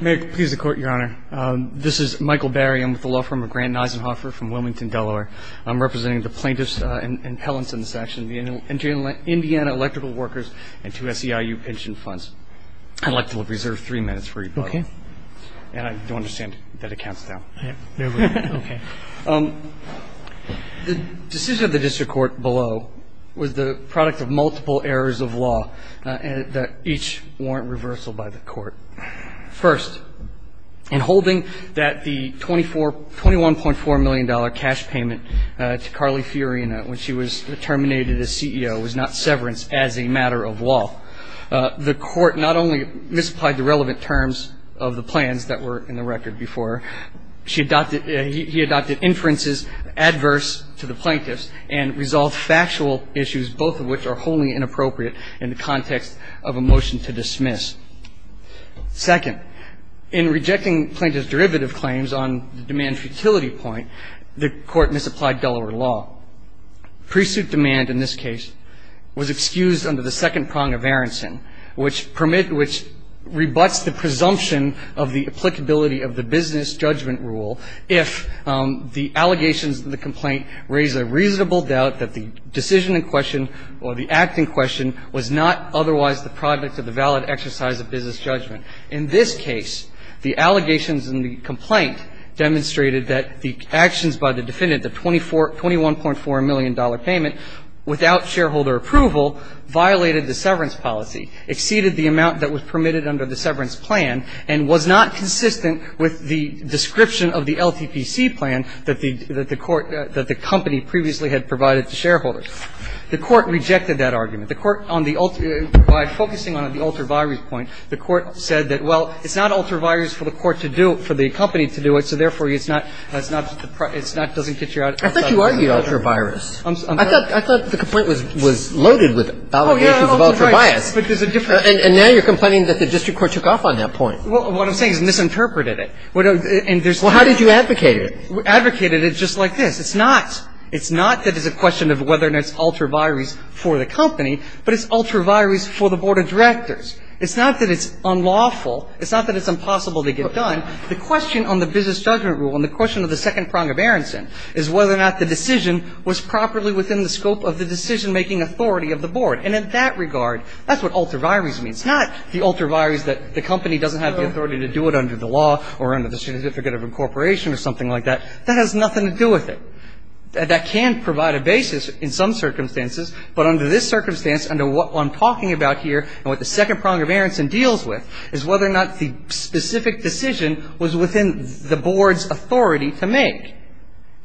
May it please the Court, Your Honor. This is Michael Barry. I'm with the law firm of Grant and Eisenhoffer from Wilmington, Delaware. I'm representing the plaintiffs and appellants in this action, the Indiana Electrical Workers and two SEIU pension funds. I'd like to reserve three minutes for you both. Okay. And I do understand that it counts down. Okay. The decision of the District Court below was the product of multiple errors of law that each warrant reversal by the Court. First, in holding that the $21.4 million cash payment to Carly Fiorina when she was terminated as CEO was not severance as a matter of law, the Court not only misapplied the relevant terms of the plans that were in the record before her, he adopted inferences adverse to the plaintiffs and resolved factual issues, both of which are wholly inappropriate in the context of a motion to dismiss. Second, in rejecting plaintiff's derivative claims on the demand futility point, the Court misapplied Delaware law. Pre-suit demand in this case was excused under the second prong of Aronson, which permits the presumption of the applicability of the business judgment rule if the allegations in the complaint raise a reasonable doubt that the decision in question or the act in question was not otherwise the product of the valid exercise of business judgment. In this case, the allegations in the complaint demonstrated that the actions by the defendant, the $21.4 million payment, without shareholder approval, violated the severance policy, exceeded the amount that was permitted under the severance plan, and was not consistent with the description of the LTPC plan that the Court – that the company previously had provided to shareholders. The Court rejected that argument. The Court on the – by focusing on the ultravirus point, the Court said that, well, it's not ultravirus for the Court to do – for the company to do it, so therefore, it's not – it's not – it's not – it doesn't get you out of – I thought you argued ultravirus. I'm sorry. I thought the complaint was loaded with allegations of ultravirus. Oh, yeah. But there's a different – Well, what I'm saying is misinterpreted it. And there's – Well, how did you advocate it? We advocated it just like this. It's not – it's not that it's a question of whether or not it's ultravirus for the company, but it's ultravirus for the board of directors. It's not that it's unlawful. It's not that it's impossible to get done. The question on the business judgment rule and the question of the second prong of Aronson is whether or not the decision was properly within the scope of the decision-making authority of the board. And in that regard, that's what ultravirus means. It's not the ultravirus that the company doesn't have the authority to do it under the law or under the certificate of incorporation or something like that. That has nothing to do with it. That can provide a basis in some circumstances, but under this circumstance, under what I'm talking about here and what the second prong of Aronson deals with is whether or not the specific decision was within the board's authority to make.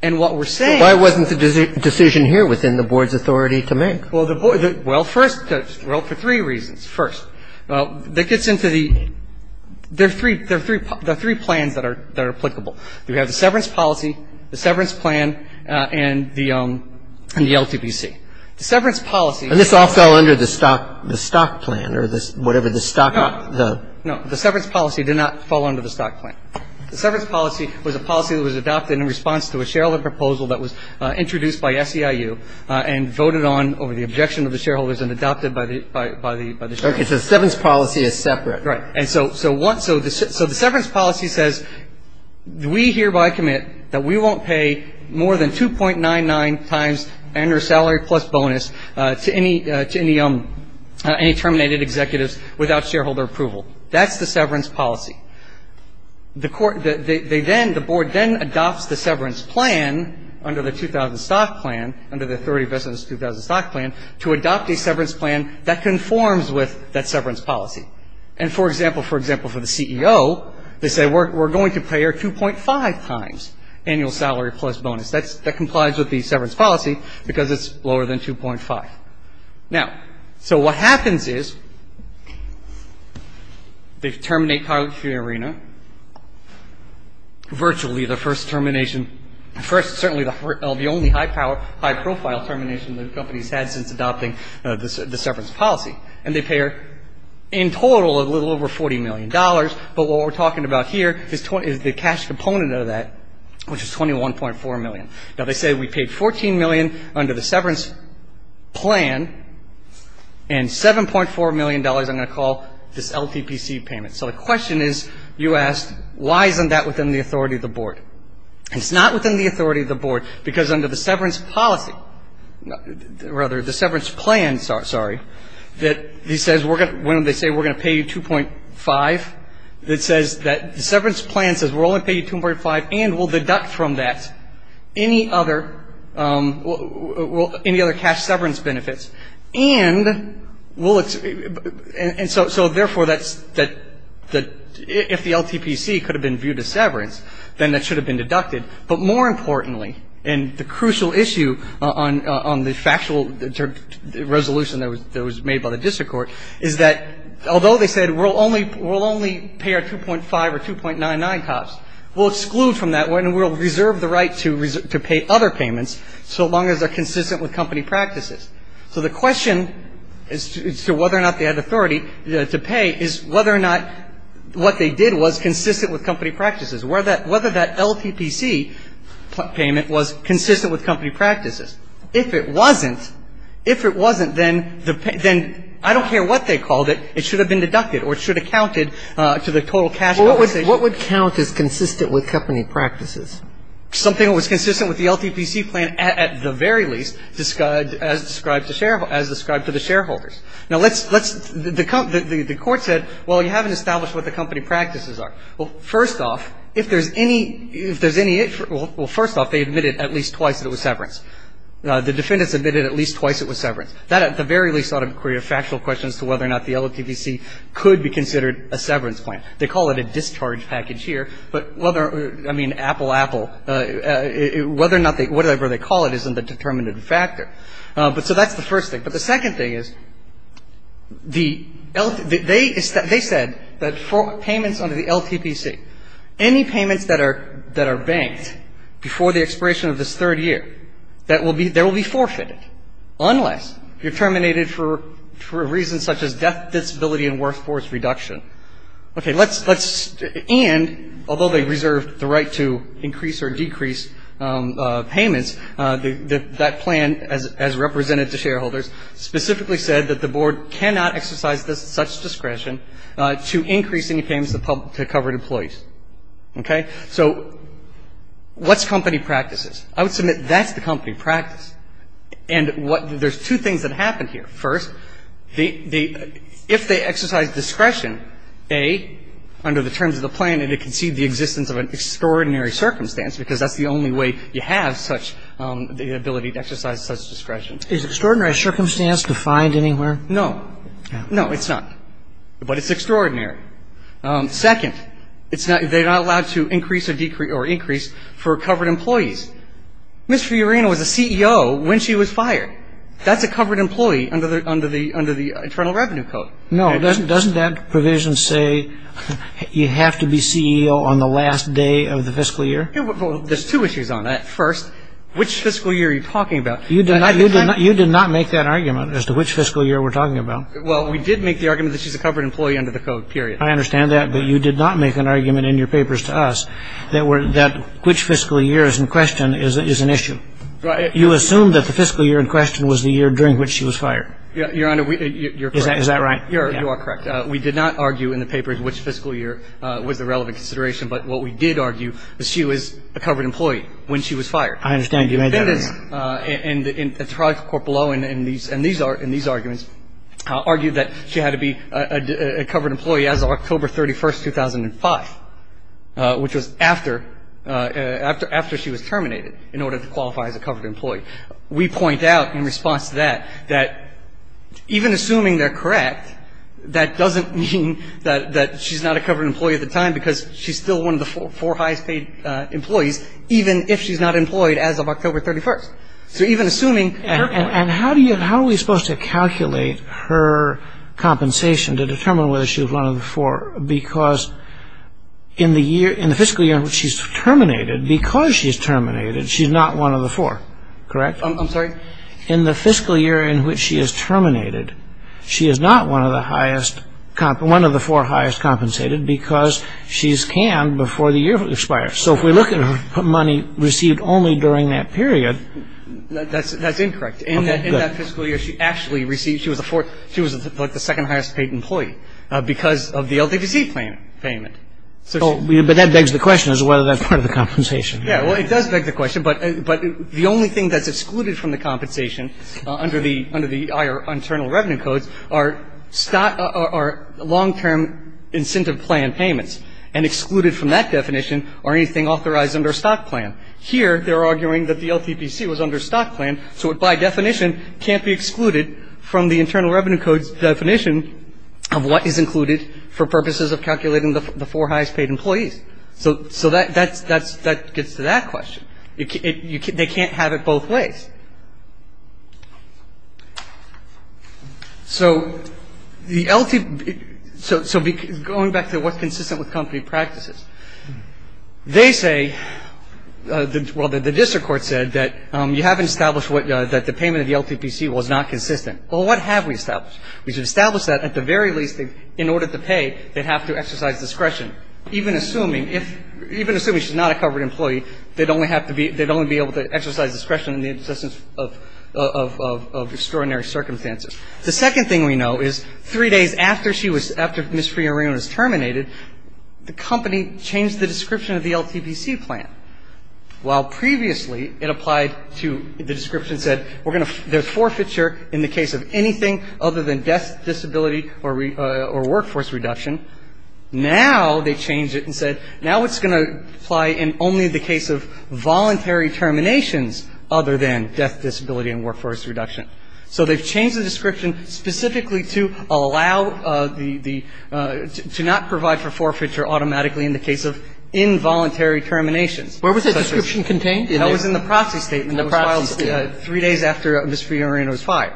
And what we're saying – But why wasn't the decision here within the board's authority to make? Well, the – well, first – well, for three reasons. First, that gets into the – there are three plans that are applicable. We have the severance policy, the severance plan, and the LTPC. The severance policy – And this all fell under the stock plan or whatever the stock – No, no. The severance policy did not fall under the stock plan. The severance policy was a policy that was adopted in response to a shareholder proposal that was introduced by SEIU and voted on over the objection of the shareholders and adopted by the shareholders. Okay. So the severance policy is separate. Right. And so what – so the severance policy says we hereby commit that we won't pay more than 2.99 times annual salary plus bonus to any terminated executives without shareholder approval. That's the severance policy. The court – they then – the board then adopts the severance plan under the 2000 stock plan, under the 30 business 2000 stock plan, to adopt a severance plan that conforms with that severance policy. And, for example, for the CEO, they say we're going to pay her 2.5 times annual salary plus bonus. That complies with the severance policy because it's lower than 2.5. Now, so what happens is they terminate Carlucci Arena, virtually the first termination – first, certainly the only high-profile termination the company's had since adopting the severance policy. And they pay her, in total, a little over $40 million. But what we're talking about here is the cash component of that, which is $21.4 million. Now, they say we paid $14 million under the severance plan and $7.4 million, I'm going to call, this LTPC payment. So the question is, you asked, why isn't that within the authority of the board? It's not within the authority of the board because under the severance policy – rather, the severance plan, sorry – that says we're going to – when they say we're going to pay you 2.5, it says that the severance plan says we're only going to pay you 2.5 and we'll deduct from that any other – any other cash severance benefits. And we'll – and so, therefore, that's – if the LTPC could have been viewed as severance, then that should have been deducted. But more importantly, and the crucial issue on the factual resolution that was made by the district court, is that although they said we'll only – we'll only pay her 2.5 or 2.99 costs, we'll exclude from that and we'll reserve the right to pay other payments so long as they're consistent with company practices. So the question as to whether or not they had authority to pay is whether or not what they did was consistent with company practices. Whether that – whether that LTPC payment was consistent with company practices. If it wasn't, if it wasn't, then the – then I don't care what they called it, it should have been deducted or it should have counted to the total cash compensation. What would count as consistent with company practices? Something that was consistent with the LTPC plan at the very least, as described to share – as described to the shareholders. Now, let's – let's – the court said, well, you haven't established what the company practices are. Well, first off, if there's any – if there's any – well, first off, they admitted at least twice that it was severance. The defendants admitted at least twice it was severance. That at the very least ought to be a factual question as to whether or not the LTPC could be considered a severance plan. They call it a discharge package here. But whether – I mean, apple, apple, whether or not they – whatever they call it isn't a determinative factor. But so that's the first thing. But the second thing is the – they said that for payments under the LTPC, any payments that are – that are banked before the expiration of this third year, that will be – that will be forfeited unless you're terminated for reasons such as death, disability and workforce reduction. Okay. Let's – and although they reserved the right to increase or decrease payments, that plan, as represented to shareholders, specifically said that the board cannot exercise such discretion to increase any payments to covered employees. Okay. So what's company practices? I would submit that's the company practice. And what – there's two things that happen here. First, the – if they exercise discretion, A, under the terms of the plan, they concede the existence of an extraordinary circumstance because that's the only way you have such – the ability to exercise such discretion. Is extraordinary circumstance defined anywhere? No. No, it's not. But it's extraordinary. Second, it's not – they're not allowed to increase or decrease – or increase for covered employees. Ms. Fiorina was a CEO when she was fired. That's a covered employee under the – under the – under the Internal Revenue Code. No. Doesn't that provision say you have to be CEO on the last day of the fiscal year? There's two issues on that. First, which fiscal year are you talking about? You did not make that argument as to which fiscal year we're talking about. Well, we did make the argument that she's a covered employee under the code, period. I understand that, but you did not make an argument in your papers to us that were – that which fiscal year is in question is an issue. You assumed that the fiscal year in question was the year during which she was fired. Your Honor, we – Is that right? You are correct. We did not argue in the papers which fiscal year was a relevant consideration. But what we did argue is she was a covered employee when she was fired. I understand. You made that argument. The defendants in the – in the trial court below in these – in these arguments argued that she had to be a covered employee as of October 31, 2005, which was after – after she was terminated in order to qualify as a covered employee. We point out in response to that, that even assuming they're correct, that doesn't mean that she's not a covered employee at the time because she's still one of the four highest paid employees, even if she's not employed as of October 31st. So even assuming – And how do you – how are we supposed to calculate her compensation to determine whether she was one of the four? Because in the year – in the fiscal year in which she's terminated, because she's terminated, she's not one of the four, correct? I'm sorry? In the fiscal year in which she is terminated, she is not one of the highest – one of the four highest compensated because she's canned before the year expires. So if we look at her money received only during that period – That's – that's incorrect. Okay, good. In that fiscal year, she actually received – she was the fourth – she was like the second highest paid employee because of the LDPC payment. But that begs the question as to whether that's part of the compensation. Yeah, well, it does beg the question, but the only thing that's excluded from the compensation under the IR – Internal Revenue Codes are long-term incentive plan payments and excluded from that definition are anything authorized under a stock plan. Here, they're arguing that the LDPC was under a stock plan, so it by definition can't be excluded from the Internal Revenue Code's definition of what is included for purposes of calculating the four highest paid employees. So that gets to that question. They can't have it both ways. So the – so going back to what's consistent with company practices, they say – well, the district court said that you haven't established that the payment of the LDPC was not consistent. Well, what have we established? We should establish that at the very least that in order to pay, they'd have to exercise discretion, even assuming if – even assuming she's not a covered employee, they'd only have to be – they'd only be able to exercise discretion in the existence of – of extraordinary circumstances. The second thing we know is three days after she was – after Ms. Fiorina was terminated, the company changed the description of the LDPC plan. While previously it applied to – the description said we're going to – there's forfeiture in the case of anything other than death, disability, or workforce reduction. Now they changed it and said now it's going to apply in only the case of voluntary terminations other than death, disability, and workforce reduction. So they've changed the description specifically to allow the – to not provide for forfeiture automatically in the case of involuntary terminations. Where was that description contained? That was in the proxy statement. That was filed three days after Ms. Fiorina was fired.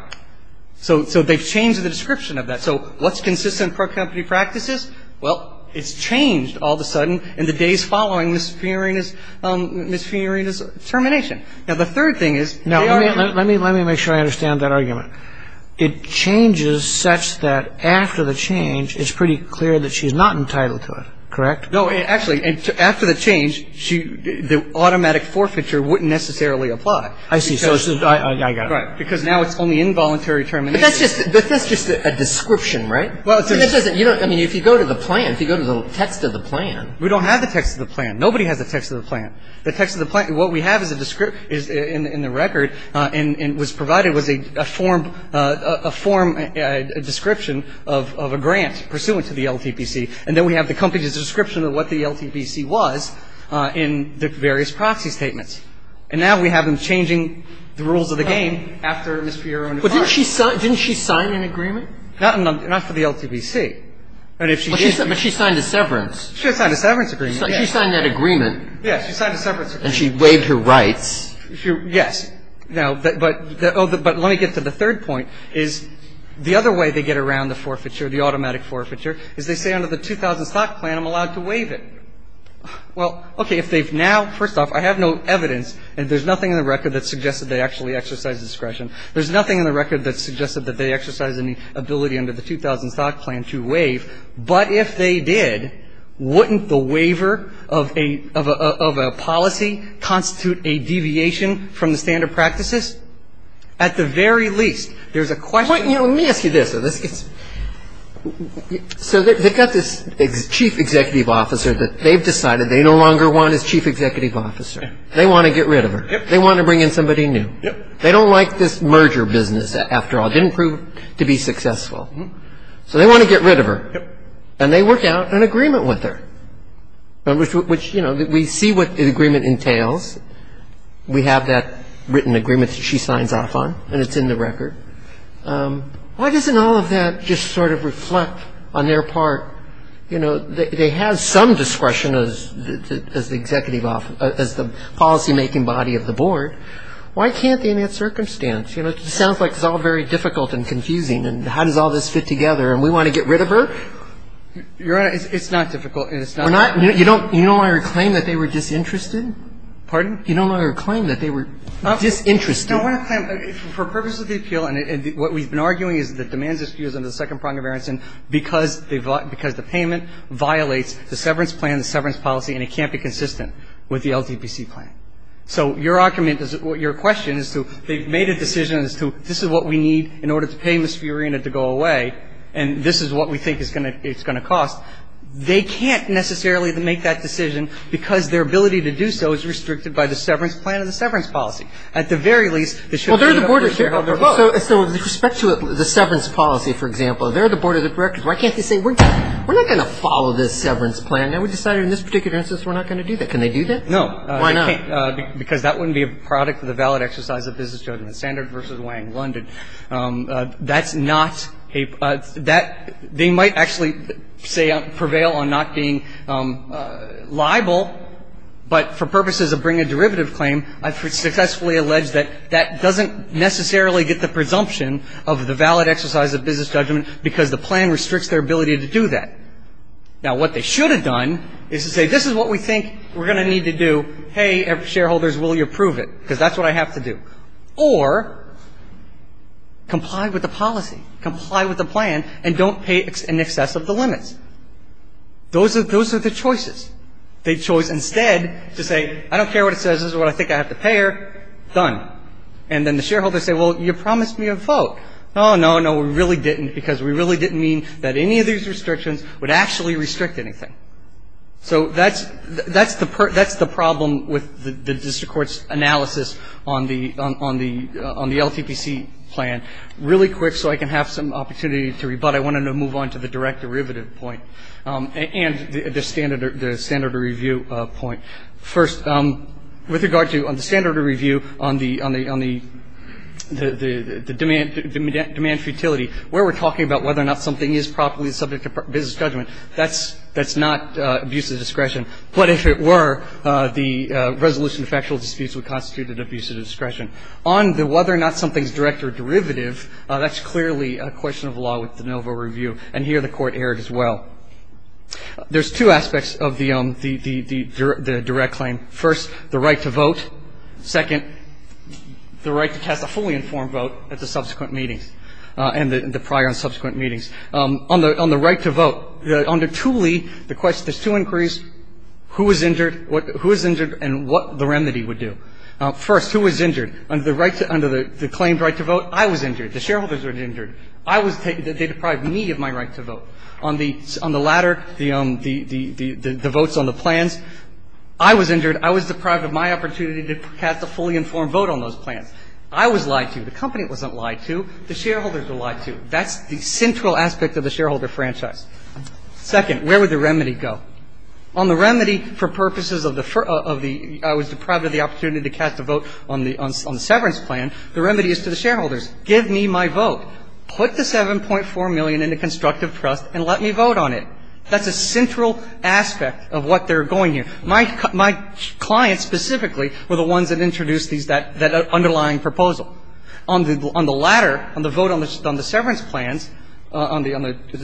So – so they've changed the description of that. So what's consistent for company practices? Well, it's changed all of a sudden in the days following Ms. Fiorina's – Ms. Fiorina's termination. Now, the third thing is – Now, let me – let me make sure I understand that argument. It changes such that after the change, it's pretty clear that she's not entitled to it, correct? No, actually, after the change, she – the automatic forfeiture wouldn't necessarily apply. I see. So it's – I got it. Right. Because now it's only involuntary terminations. But that's just – but that's just a description, right? Well, it's a – I mean, if you go to the plan, if you go to the text of the plan. We don't have the text of the plan. Nobody has the text of the plan. The text of the plan – what we have is a – is in the record and was provided was a form – a form description of a grant pursuant to the LTPC. And then we have the company's description of what the LTPC was in the various proxy statements. And now we have them changing the rules of the game after Ms. Fiorina's term. But didn't she – didn't she sign an agreement? Not for the LTPC. But if she did – But she signed a severance. She signed a severance agreement. She signed that agreement. Yes. She signed a severance agreement. And she waived her rights. She – yes. Now, but – but let me get to the third point, is the other way they get around the forfeiture, the automatic forfeiture, is they say under the 2000 stock plan I'm allowed to waive it. Well, okay, if they've now – first off, I have no evidence, and there's nothing in the record that suggests that they actually exercise discretion. There's nothing in the record that suggests that they exercise any ability under the 2000 stock plan to waive. But if they did, wouldn't the waiver of a – of a policy constitute a deviation from the standard practices? At the very least, there's a question – Let me ask you this. So they've got this chief executive officer that they've decided they no longer want as chief executive officer. They want to get rid of her. Yep. They want to bring in somebody new. Yep. They don't like this merger business after all. It didn't prove to be successful. So they want to get rid of her. Yep. And they work out an agreement with her, which, you know, we see what the agreement entails. We have that written agreement that she signs off on, and it's in the record. Why doesn't all of that just sort of reflect on their part? You know, they have some discretion as the executive – as the policymaking body of the board. Why can't they in that circumstance? You know, it just sounds like it's all very difficult and confusing, and how does all this fit together? And we want to get rid of her? You don't want to claim that they were disinterested? Pardon? You don't want to claim that they were disinterested? No, I want to claim, for purposes of the appeal, and what we've been arguing is that the demands are skewed under the second prong of Aronson because the payment violates the severance plan, the severance policy, and it can't be consistent with the LDPC plan. So your argument is – your question is to – they've made a decision as to, this is what we need in order to pay Ms. Fiorina to go away, and this is what we think it's going to cost. They can't necessarily make that decision because their ability to do so is restricted by the severance plan and the severance policy. At the very least, they should be able to share how they're both. So with respect to the severance policy, for example, they're the board of directors. Why can't they say, we're not going to follow this severance plan, and we decided in this particular instance we're not going to do that. Can they do that? No. Why not? Because that wouldn't be a product of the valid exercise of business judgment. Standard versus Wang, London, that's not a – that – they might actually say – prevail on not being liable, but for purposes of bringing a derivative claim, I've successfully alleged that that doesn't necessarily get the presumption of the valid exercise of business judgment because the plan restricts their ability to do that. Now, what they should have done is to say, this is what we think we're going to need to do. Hey, shareholders, will you approve it? Because that's what I have to do. Or comply with the policy, comply with the plan, and don't pay in excess of the limits. Those are the choices. They chose instead to say, I don't care what it says. This is what I think I have to pay her. Done. And then the shareholders say, well, you promised me a vote. Oh, no, no, we really didn't because we really didn't mean that any of these restrictions would actually restrict anything. So that's the problem with the district court's analysis on the LTPC plan. Really quick so I can have some opportunity to rebut, I wanted to move on to the direct derivative point and the standard review point. First, with regard to the standard review on the demand for utility, where we're talking about whether or not something is properly subject to business judgment, that's not abuse of discretion. But if it were, the resolution to factual disputes would constitute an abuse of discretion. On the whether or not something is direct or derivative, that's clearly a question of law with the NOVA review. And here the Court erred as well. There's two aspects of the direct claim. First, the right to vote. Second, the right to cast a fully informed vote at the subsequent meetings and the prior and subsequent meetings. On the right to vote, under Tooley, there's two inquiries, who was injured and what the remedy would do. First, who was injured? Under the claimed right to vote, I was injured. The shareholders were injured. They deprived me of my right to vote. On the latter, the votes on the plans, I was injured. I was deprived of my opportunity to cast a fully informed vote on those plans. I was lied to. The company wasn't lied to. The shareholders were lied to. That's the central aspect of the shareholder franchise. Second, where would the remedy go? On the remedy for purposes of the ‑‑ I was deprived of the opportunity to cast a vote on the severance plan, the remedy is to the shareholders. Give me my vote. Put the $7.4 million into constructive trust and let me vote on it. That's a central aspect of what they're going here. My clients specifically were the ones that introduced that underlying proposal. On the latter, on the vote on the severance plans, on the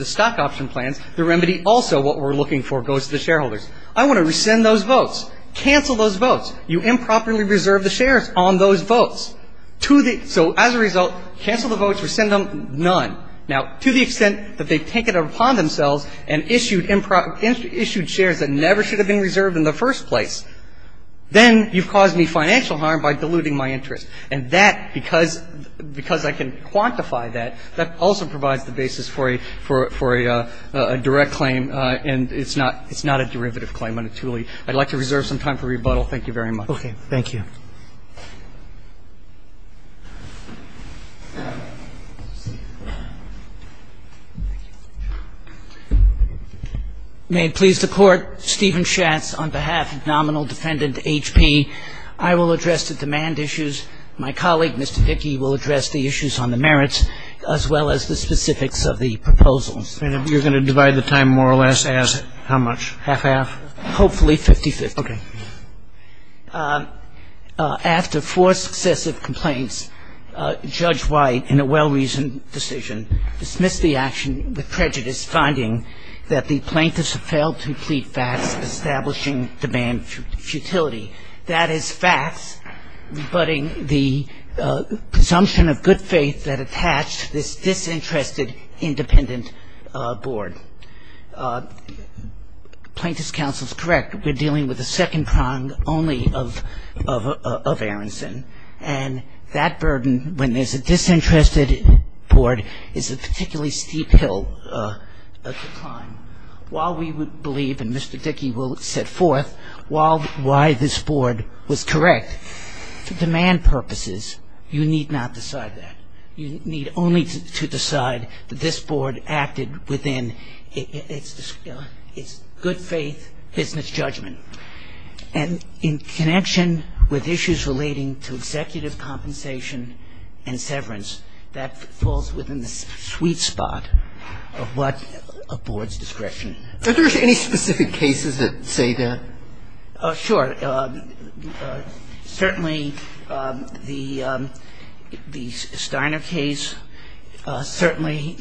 stock option plans, the remedy also, what we're looking for, goes to the shareholders. I want to rescind those votes. Cancel those votes. You improperly reserved the shares on those votes. So as a result, cancel the votes, rescind them, none. Now, to the extent that they take it upon themselves and issued shares that never should have been reserved in the first place, then you've caused me financial harm by diluting my interest. And that, because I can quantify that, that also provides the basis for a direct claim and it's not a derivative claim unatuly. I'd like to reserve some time for rebuttal. Thank you very much. Okay. Thank you. May it please the Court, Stephen Schatz on behalf of nominal defendant HP, I will address the demand issues. My colleague, Mr. Dickey, will address the issues on the merits as well as the specifics of the proposals. And you're going to divide the time more or less as how much? Half-half? Hopefully 50-50. Okay. After four successive complaints, Judge White, in a well-reasoned decision, dismissed the action with prejudice, finding that the plaintiffs had failed to complete facts establishing demand futility. That is facts rebutting the presumption of good faith that attached this disinterested independent board. Plaintiff's counsel is correct. We're dealing with the second prong only of Aronson. And that burden, when there's a disinterested board, is a particularly steep hill to climb. While we would believe, and Mr. Dickey will set forth, why this board was correct, for demand purposes, you need not decide that. You need only to decide that this board acted within its good faith business judgment. And in connection with issues relating to executive compensation and severance, that falls within the sweet spot of what a board's discretion. Are there any specific cases that say that? Sure. Certainly the Steiner case. Certainly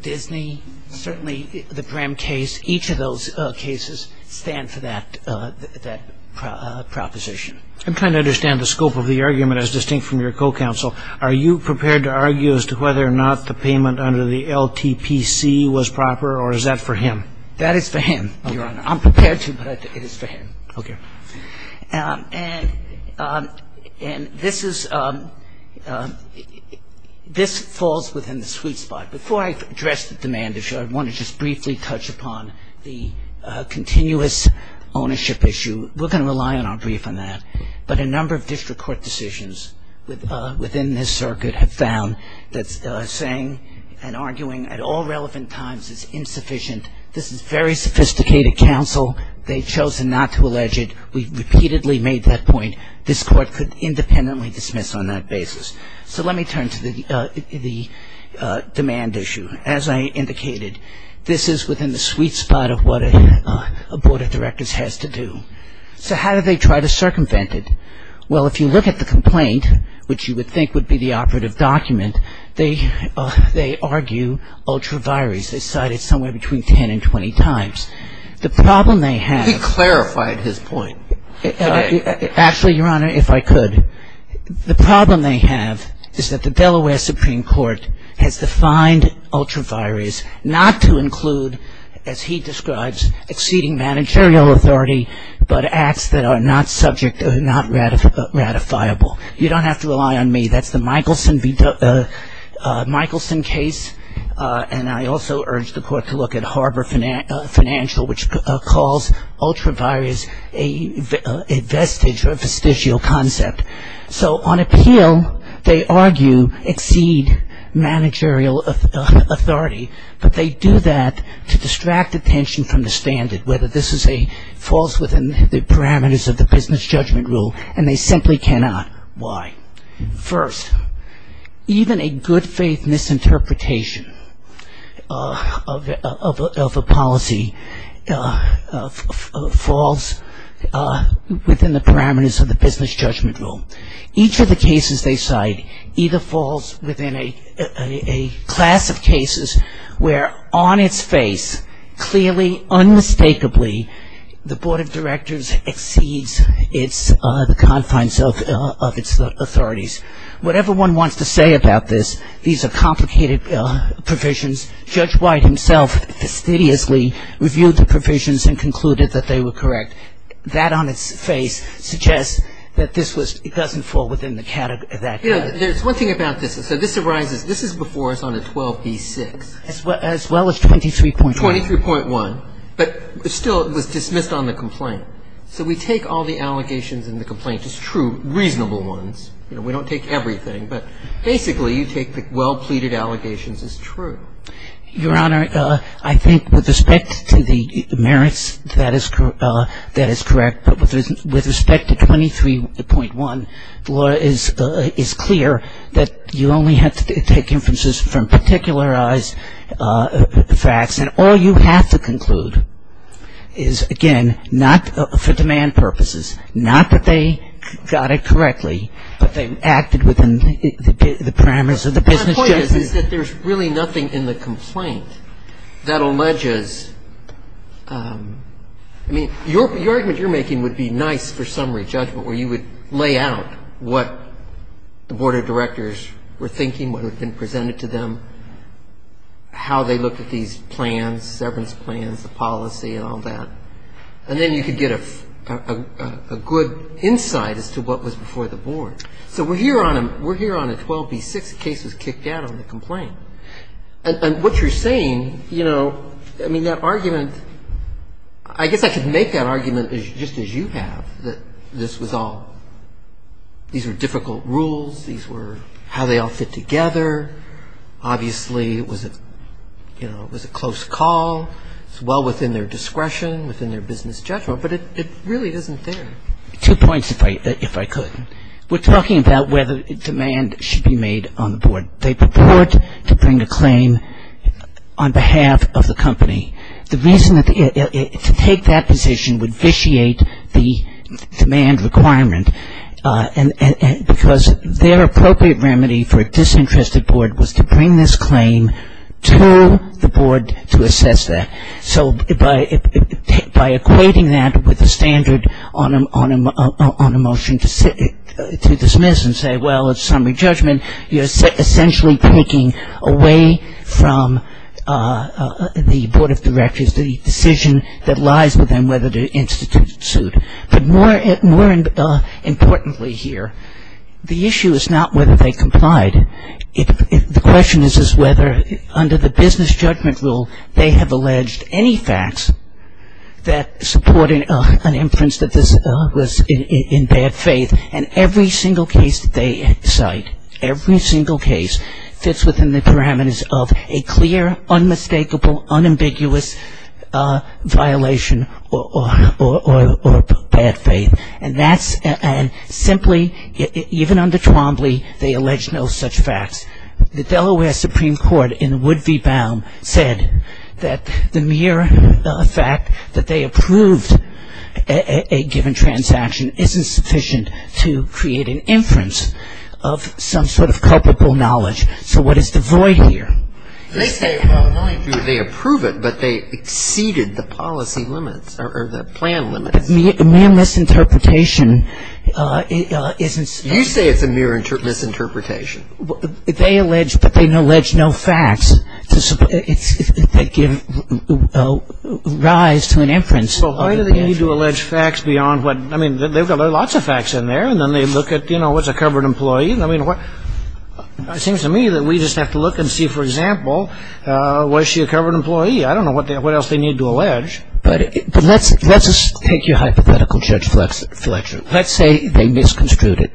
Disney. Certainly the Brehm case. Each of those cases stand for that proposition. I'm trying to understand the scope of the argument as distinct from your co-counsel. Are you prepared to argue as to whether or not the payment under the LTPC was proper, or is that for him? That is for him, Your Honor. I'm prepared to, but it is for him. Okay. And this is ‑‑ this falls within the sweet spot. Before I address the demand issue, I want to just briefly touch upon the continuous ownership issue. We're going to rely on our brief on that. But a number of district court decisions within this circuit have found that saying and arguing at all relevant times is insufficient. This is very sophisticated counsel. They've chosen not to allege it. We've repeatedly made that point. This court could independently dismiss on that basis. So let me turn to the demand issue. As I indicated, this is within the sweet spot of what a board of directors has to do. So how do they try to circumvent it? Well, if you look at the complaint, which you would think would be the operative document, they argue ultra vires. They cite it somewhere between 10 and 20 times. The problem they have ‑‑ He clarified his point. Actually, Your Honor, if I could. The problem they have is that the Delaware Supreme Court has defined ultra vires not to include, as he describes, exceeding managerial authority, but acts that are not subject or not ratifiable. You don't have to rely on me. That's the Michelson case. And I also urge the court to look at Harbor Financial, which calls ultra vires a vestige or a fisticial concept. So on appeal, they argue exceed managerial authority. But they do that to distract attention from the standard, whether this falls within the parameters of the business judgment rule, and they simply cannot. Why? First, even a good faith misinterpretation of a policy falls within the parameters of the business judgment rule. Each of the cases they cite either falls within a class of cases where on its face, clearly, unmistakably, the board of directors exceeds the confines of its authorities. Whatever one wants to say about this, these are complicated provisions. Judge White himself fastidiously reviewed the provisions and concluded that they were correct. And that on its face suggests that this was ‑‑ it doesn't fall within the category of that case. There's one thing about this. So this arises ‑‑ this is before us on a 12b-6. As well as 23.1. 23.1. But still, it was dismissed on the complaint. So we take all the allegations in the complaint as true, reasonable ones. We don't take everything. But basically, you take the well-pleaded allegations as true. Your Honor, I think with respect to the merits, that is correct. But with respect to 23.1, the law is clear that you only have to take inferences from particularized facts. And all you have to conclude is, again, not for demand purposes, not that they got it correctly, but they acted within the parameters of the business judgment. The point is that there's really nothing in the complaint that alleges ‑‑ I mean, your argument you're making would be nice for summary judgment where you would lay out what the board of directors were thinking, what had been presented to them, how they looked at these plans, severance plans, the policy and all that. And then you could get a good insight as to what was before the board. So we're here on a 12B6. The case was kicked out on the complaint. And what you're saying, you know, I mean, that argument, I guess I could make that argument just as you have, that this was all ‑‑ these were difficult rules. These were how they all fit together. Obviously, it was a close call. It's well within their discretion, within their business judgment. But it really isn't there. Two points, if I could. We're talking about whether demand should be made on the board. They purport to bring a claim on behalf of the company. The reason to take that position would vitiate the demand requirement because their appropriate remedy for a disinterested board was to bring this claim to the board to assess that. So by equating that with a standard on a motion to dismiss and say, well, it's summary judgment, you're essentially taking away from the board of directors the decision that lies with them whether to institute suit. But more importantly here, the issue is not whether they complied. The question is whether under the business judgment rule they have alleged any facts that support an inference that this was in bad faith. And every single case that they cite, every single case fits within the parameters of a clear, unmistakable, unambiguous violation or bad faith. And simply, even under Twombly, they allege no such facts. The Delaware Supreme Court in Wood v. Baum said that the mere fact that they approved a given transaction isn't sufficient to create an inference of some sort of culpable knowledge. So what is the void here? They say, well, not only do they approve it, but they exceeded the policy limits or the plan limits. A mere misinterpretation isn't sufficient. You say it's a mere misinterpretation. They allege, but they allege no facts that give rise to an inference. Well, why do they need to allege facts beyond what? I mean, they've got lots of facts in there. And then they look at, you know, what's a covered employee? I mean, it seems to me that we just have to look and see, for example, was she a covered employee? I don't know what else they need to allege. But let's take your hypothetical, Judge Fletcher. Let's say they misconstrued it.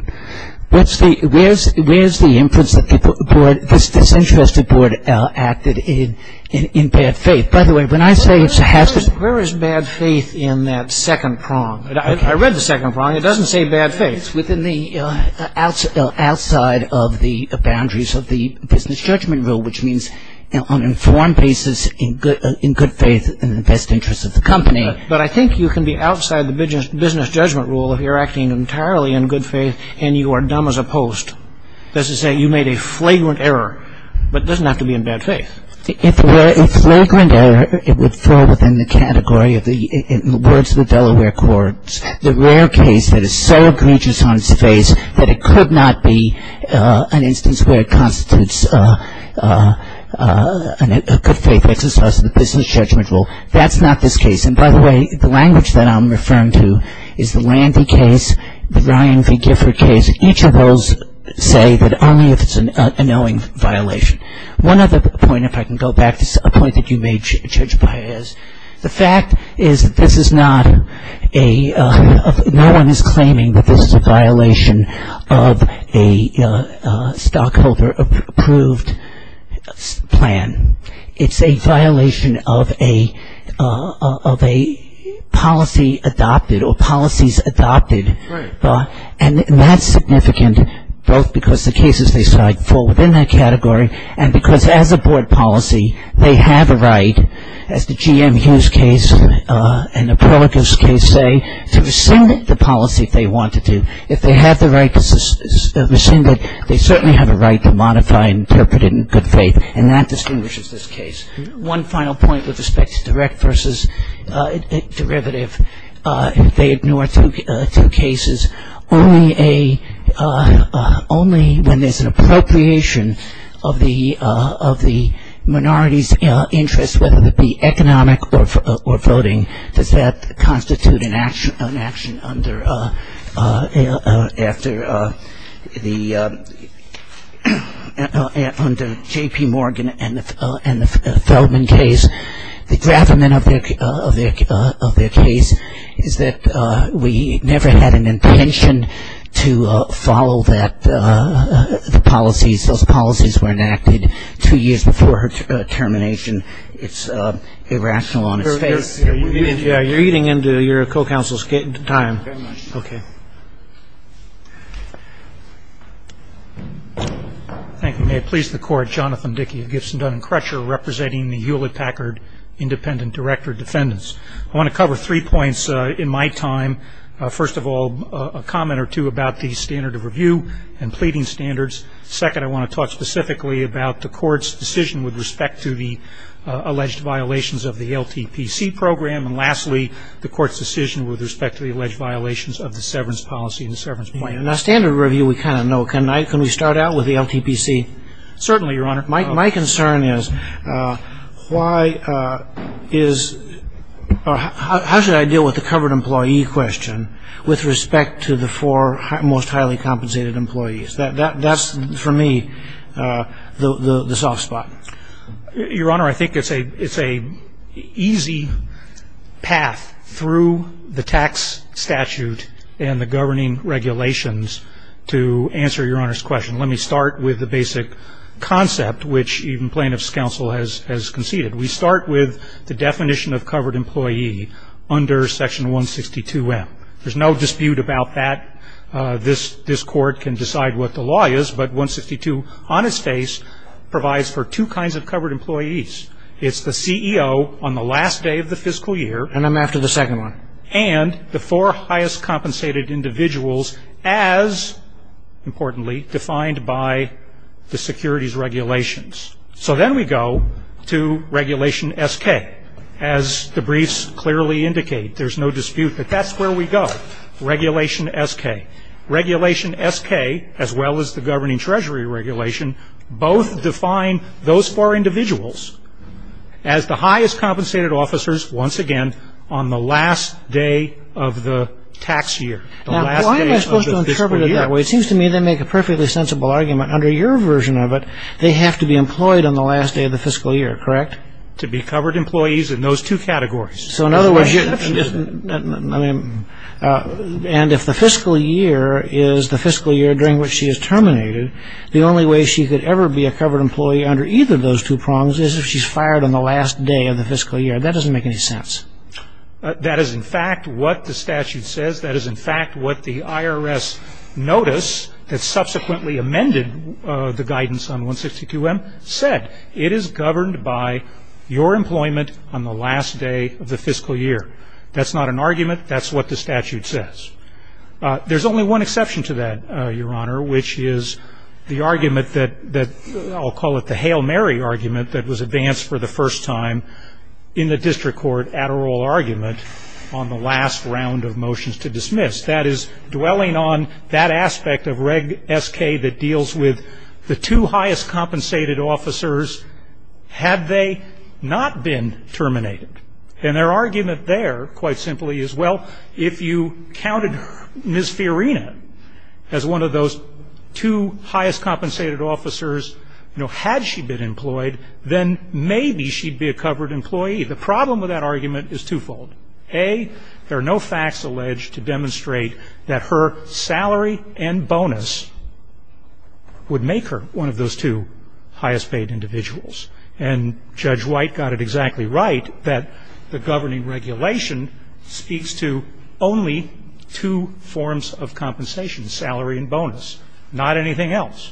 Where's the inference that this interest report acted in bad faith? By the way, when I say it's a hazard. Where is bad faith in that second prong? I read the second prong. It doesn't say bad faith. It's within the outside of the boundaries of the business judgment rule, which means on an informed basis in good faith in the best interest of the company. But I think you can be outside the business judgment rule if you're acting entirely in good faith and you are dumb as a post. This is saying you made a flagrant error. But it doesn't have to be in bad faith. If it were a flagrant error, it would fall within the category of the words of the Delaware Courts. The rare case that is so egregious on its face that it could not be an instance where it constitutes a good faith exercise in the business judgment rule, that's not this case. And by the way, the language that I'm referring to is the Landy case, the Ryan v. Gifford case. Each of those say that only if it's a knowing violation. One other point, if I can go back, is a point that you made, Judge Paez. The fact is that this is not a, no one is claiming that this is a violation of a stockholder approved plan. It's a violation of a policy adopted or policies adopted. Right. And that's significant both because the cases they cite fall within that category and because as a board policy, they have a right, as the GM Hughes case and the Perlikus case say, to rescind the policy if they want to do. If they have the right to rescind it, they certainly have a right to modify and interpret it in good faith. And that distinguishes this case. One final point with respect to direct versus derivative. They ignore two cases. Only when there's an appropriation of the minority's interest, whether it be economic or voting, does that constitute an action under the, under J.P. Morgan and the Feldman case. The detriment of their case is that we never had an intention to follow the policies. Those policies were enacted two years before her termination. It's irrational on its face. Yeah, you're eating into your co-counsel's time. Very much. Okay. Thank you. May it please the Court, Jonathan Dickey of Gibson, Dun & Crusher, representing the Hewlett-Packard Independent Director Defendants. I want to cover three points in my time. First of all, a comment or two about the standard of review and pleading standards. Second, I want to talk specifically about the Court's decision with respect to the alleged violations of the LTPC program. And lastly, the Court's decision with respect to the alleged violations of the severance policy and the severance plan. In a standard review, we kind of know. Can we start out with the LTPC? Certainly, Your Honor. My concern is why is, how should I deal with the covered employee question with respect to the four most highly compensated employees? That's, for me, the soft spot. Your Honor, I think it's an easy path through the tax statute and the governing regulations to answer Your Honor's question. Let me start with the basic concept, which even plaintiff's counsel has conceded. We start with the definition of covered employee under Section 162M. There's no dispute about that. This Court can decide what the law is, but 162 on its face provides for two kinds of covered employees. It's the CEO on the last day of the fiscal year. And I'm after the second one. And the four highest compensated individuals as, importantly, defined by the securities regulations. So then we go to Regulation SK. As the briefs clearly indicate, there's no dispute that that's where we go. Regulation SK. Regulation SK, as well as the governing treasury regulation, both define those four individuals as the highest compensated officers, once again, on the last day of the tax year. Now, why am I supposed to interpret it that way? It seems to me they make a perfectly sensible argument. Under your version of it, they have to be employed on the last day of the fiscal year, correct? To be covered employees in those two categories. So, in other words, I mean, and if the fiscal year is the fiscal year during which she is terminated, the only way she could ever be a covered employee under either of those two prongs is if she's fired on the last day of the fiscal year. That doesn't make any sense. That is, in fact, what the statute says. That is, in fact, what the IRS notice that subsequently amended the guidance on 162M said. It is governed by your employment on the last day of the fiscal year. That's not an argument. That's what the statute says. There's only one exception to that, Your Honor, which is the argument that I'll call it the Hail Mary argument that was advanced for the first time in the district court at oral argument on the last round of motions to dismiss. That is dwelling on that aspect of Reg SK that deals with the two highest compensated officers. Had they not been terminated? And their argument there, quite simply, is, well, if you counted Ms. Fiorina as one of those two highest compensated officers, you know, had she been employed, then maybe she'd be a covered employee. The problem with that argument is twofold. A, there are no facts alleged to demonstrate that her salary and bonus would make her one of those two highest paid individuals. And Judge White got it exactly right that the governing regulation speaks to only two forms of compensation, salary and bonus, not anything else.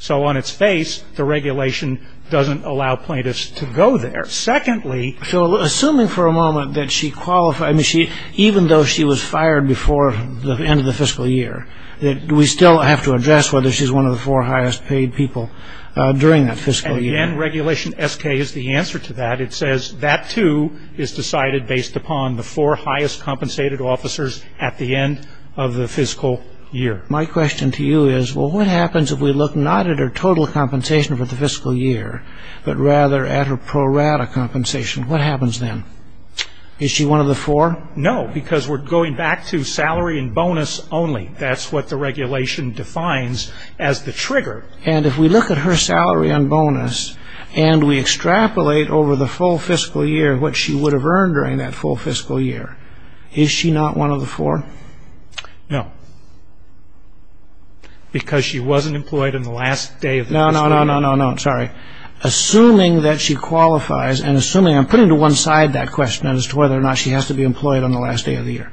So on its face, the regulation doesn't allow plaintiffs to go there. Secondly. So assuming for a moment that she qualified, even though she was fired before the end of the fiscal year, do we still have to address whether she's one of the four highest paid people during that fiscal year? Again, regulation SK is the answer to that. It says that, too, is decided based upon the four highest compensated officers at the end of the fiscal year. My question to you is, well, what happens if we look not at her total compensation for the fiscal year, but rather at her pro rata compensation? What happens then? Is she one of the four? No, because we're going back to salary and bonus only. That's what the regulation defines as the trigger. And if we look at her salary and bonus and we extrapolate over the full fiscal year what she would have earned during that full fiscal year, is she not one of the four? Because she wasn't employed in the last day of the fiscal year. No, no, no, no, sorry. Assuming that she qualifies, and assuming, I'm putting to one side that question as to whether or not she has to be employed on the last day of the year.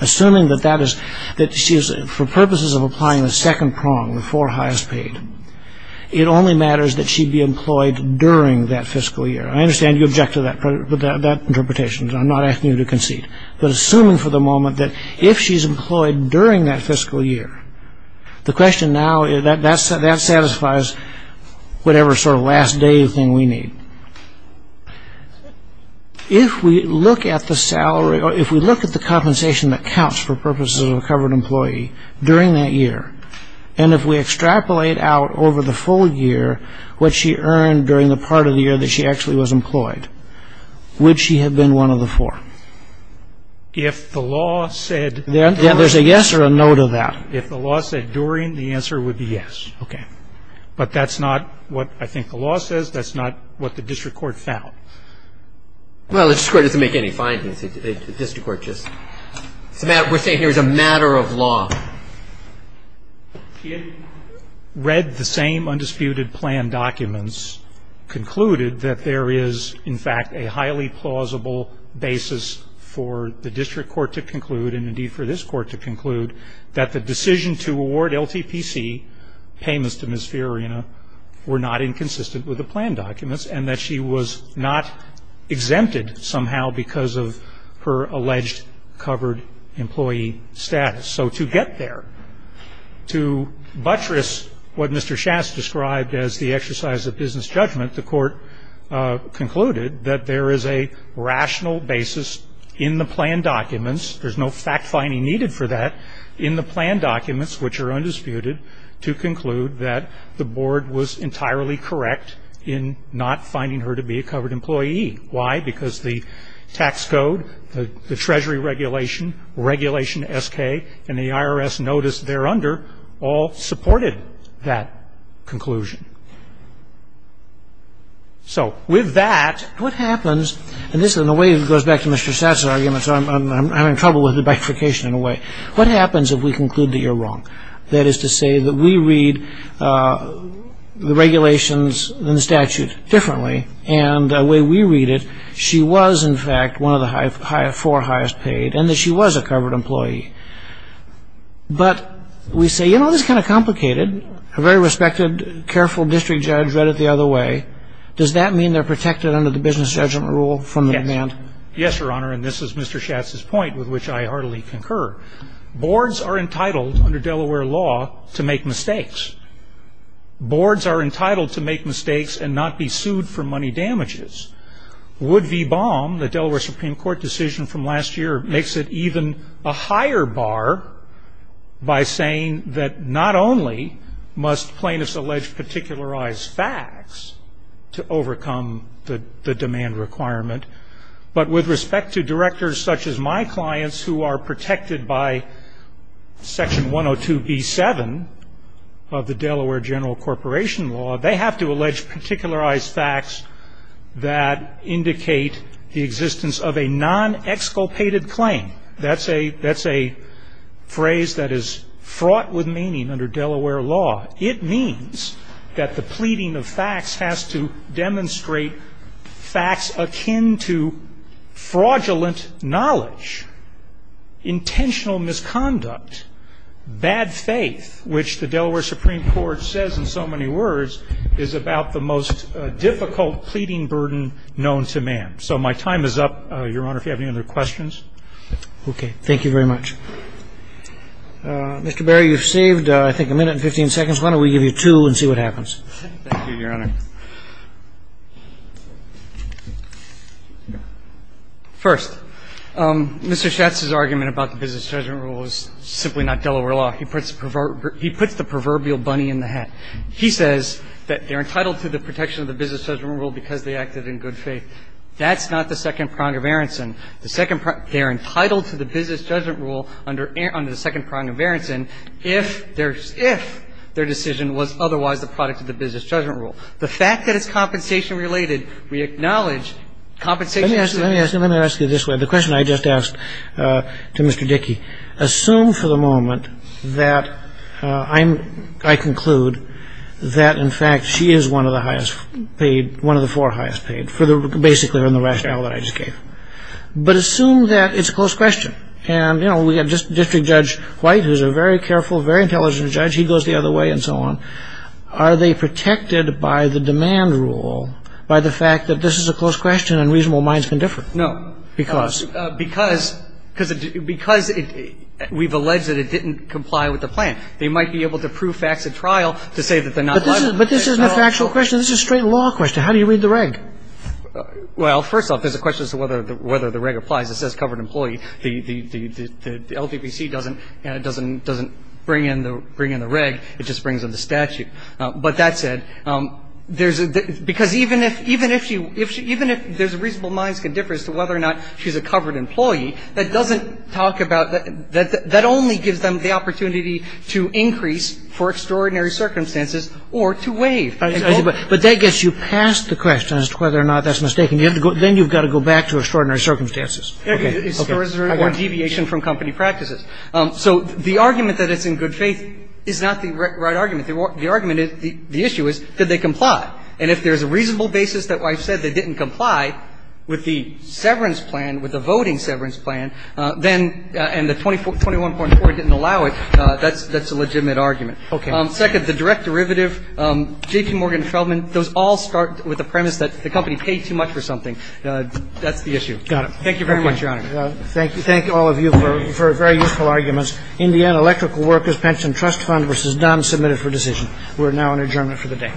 Assuming that that is, that she is, for purposes of applying the second prong, the four highest paid, it only matters that she be employed during that fiscal year. I understand you object to that interpretation. I'm not asking you to concede. But assuming for the moment that if she's employed during that fiscal year, the question now, that satisfies whatever sort of last day thing we need. If we look at the salary, or if we look at the compensation that counts for purposes of a covered employee during that year, and if we extrapolate out over the full year what she earned during the part of the year that she actually was employed, would she have been one of the four? If the law said... There's a yes or a no to that. If the law said during, the answer would be yes. Okay. But that's not what I think the law says. That's not what the district court found. Well, the district court doesn't make any findings. The district court just... We're saying here it's a matter of law. She had read the same undisputed plan documents, concluded that there is, in fact, a highly plausible basis for the district court to conclude, and indeed for this court to conclude, that the decision to award LTPC payments to Ms. Fiorina were not inconsistent with the plan documents, and that she was not exempted somehow because of her alleged covered employee status. So to get there, to buttress what Mr. Schatz described as the exercise of business judgment, the court concluded that there is a rational basis in the plan documents. There's no fact-finding needed for that in the plan documents, which are undisputed to conclude that the board was entirely correct in not finding her to be a covered employee. Why? Because the tax code, the Treasury regulation, regulation SK, and the IRS notice thereunder all supported that conclusion. So with that, what happens... Basically, and the way it goes back to Mr. Schatz's arguments, I'm having trouble with the bifurcation in a way. What happens if we conclude that you're wrong? That is to say that we read the regulations and the statute differently, and the way we read it, she was, in fact, one of the four highest paid, and that she was a covered employee. But we say, you know, this is kind of complicated. A very respected, careful district judge read it the other way. Does that mean they're protected under the business judgment rule from the demand? Yes, Your Honor, and this is Mr. Schatz's point, with which I heartily concur. Boards are entitled under Delaware law to make mistakes. Boards are entitled to make mistakes and not be sued for money damages. Wood v. Baum, the Delaware Supreme Court decision from last year, makes it even a higher bar by saying that not only must plaintiffs allege particularized facts to overcome the demand requirement, but with respect to directors such as my clients, who are protected by section 102B7 of the Delaware general corporation law, they have to allege particularized facts that indicate the existence of a non-exculpated claim. That's a phrase that is fraught with meaning under Delaware law. It means that the pleading of facts has to demonstrate facts akin to fraudulent knowledge, intentional misconduct, bad faith, which the Delaware Supreme Court says in so many words is about the most difficult pleading burden known to man. So my time is up, Your Honor, if you have any other questions. Okay. Thank you very much. Mr. Berry, you've saved I think a minute and 15 seconds. Why don't we give you two and see what happens. Thank you, Your Honor. First, Mr. Schatz's argument about the business judgment rule is simply not Delaware law. He puts the proverbial bunny in the hat. He says that they're entitled to the protection of the business judgment rule because they acted in good faith. That's not the second prong of Aronson. They're entitled to the business judgment rule under the second prong of Aronson if their decision was otherwise the product of the business judgment rule. The fact that it's compensation-related, we acknowledge compensation- Let me ask you this way. The question I just asked to Mr. Dickey, assume for the moment that I conclude that, in fact, she is one of the highest paid, one of the four highest paid, basically on the rationale that I just gave. But assume that it's a close question. And we have District Judge White who's a very careful, very intelligent judge. He goes the other way and so on. Are they protected by the demand rule by the fact that this is a close question and reasonable minds can differ? No. Because? Because we've alleged that it didn't comply with the plan. They might be able to prove facts at trial to say that they're not- But this isn't a factual question. This is a straight law question. How do you read the reg? Well, first off, there's a question as to whether the reg applies. It says covered employee. The LDPC doesn't bring in the reg. It just brings in the statute. But that said, because even if there's reasonable minds can differ as to whether or not she's a covered employee, that doesn't talk about that. That only gives them the opportunity to increase for extraordinary circumstances or to waive. But that gets you past the question as to whether or not that's mistaken. Then you've got to go back to extraordinary circumstances. Is there a deviation from company practices? So the argument that it's in good faith is not the right argument. The argument is, the issue is, did they comply? And if there's a reasonable basis that I've said they didn't comply with the severance plan, with the voting severance plan, and the 21.4 didn't allow it, that's a legitimate argument. Okay. Second, the direct derivative. J.P. Morgan Feldman, those all start with the premise that the company paid too much for something. That's the issue. Got it. Thank you very much, Your Honor. Thank you. Thank all of you for very useful arguments. Indiana Electrical Workers Pension Trust Fund v. Dunn, submitted for decision. We're now in adjournment for the day. All rise. The court is adjourned.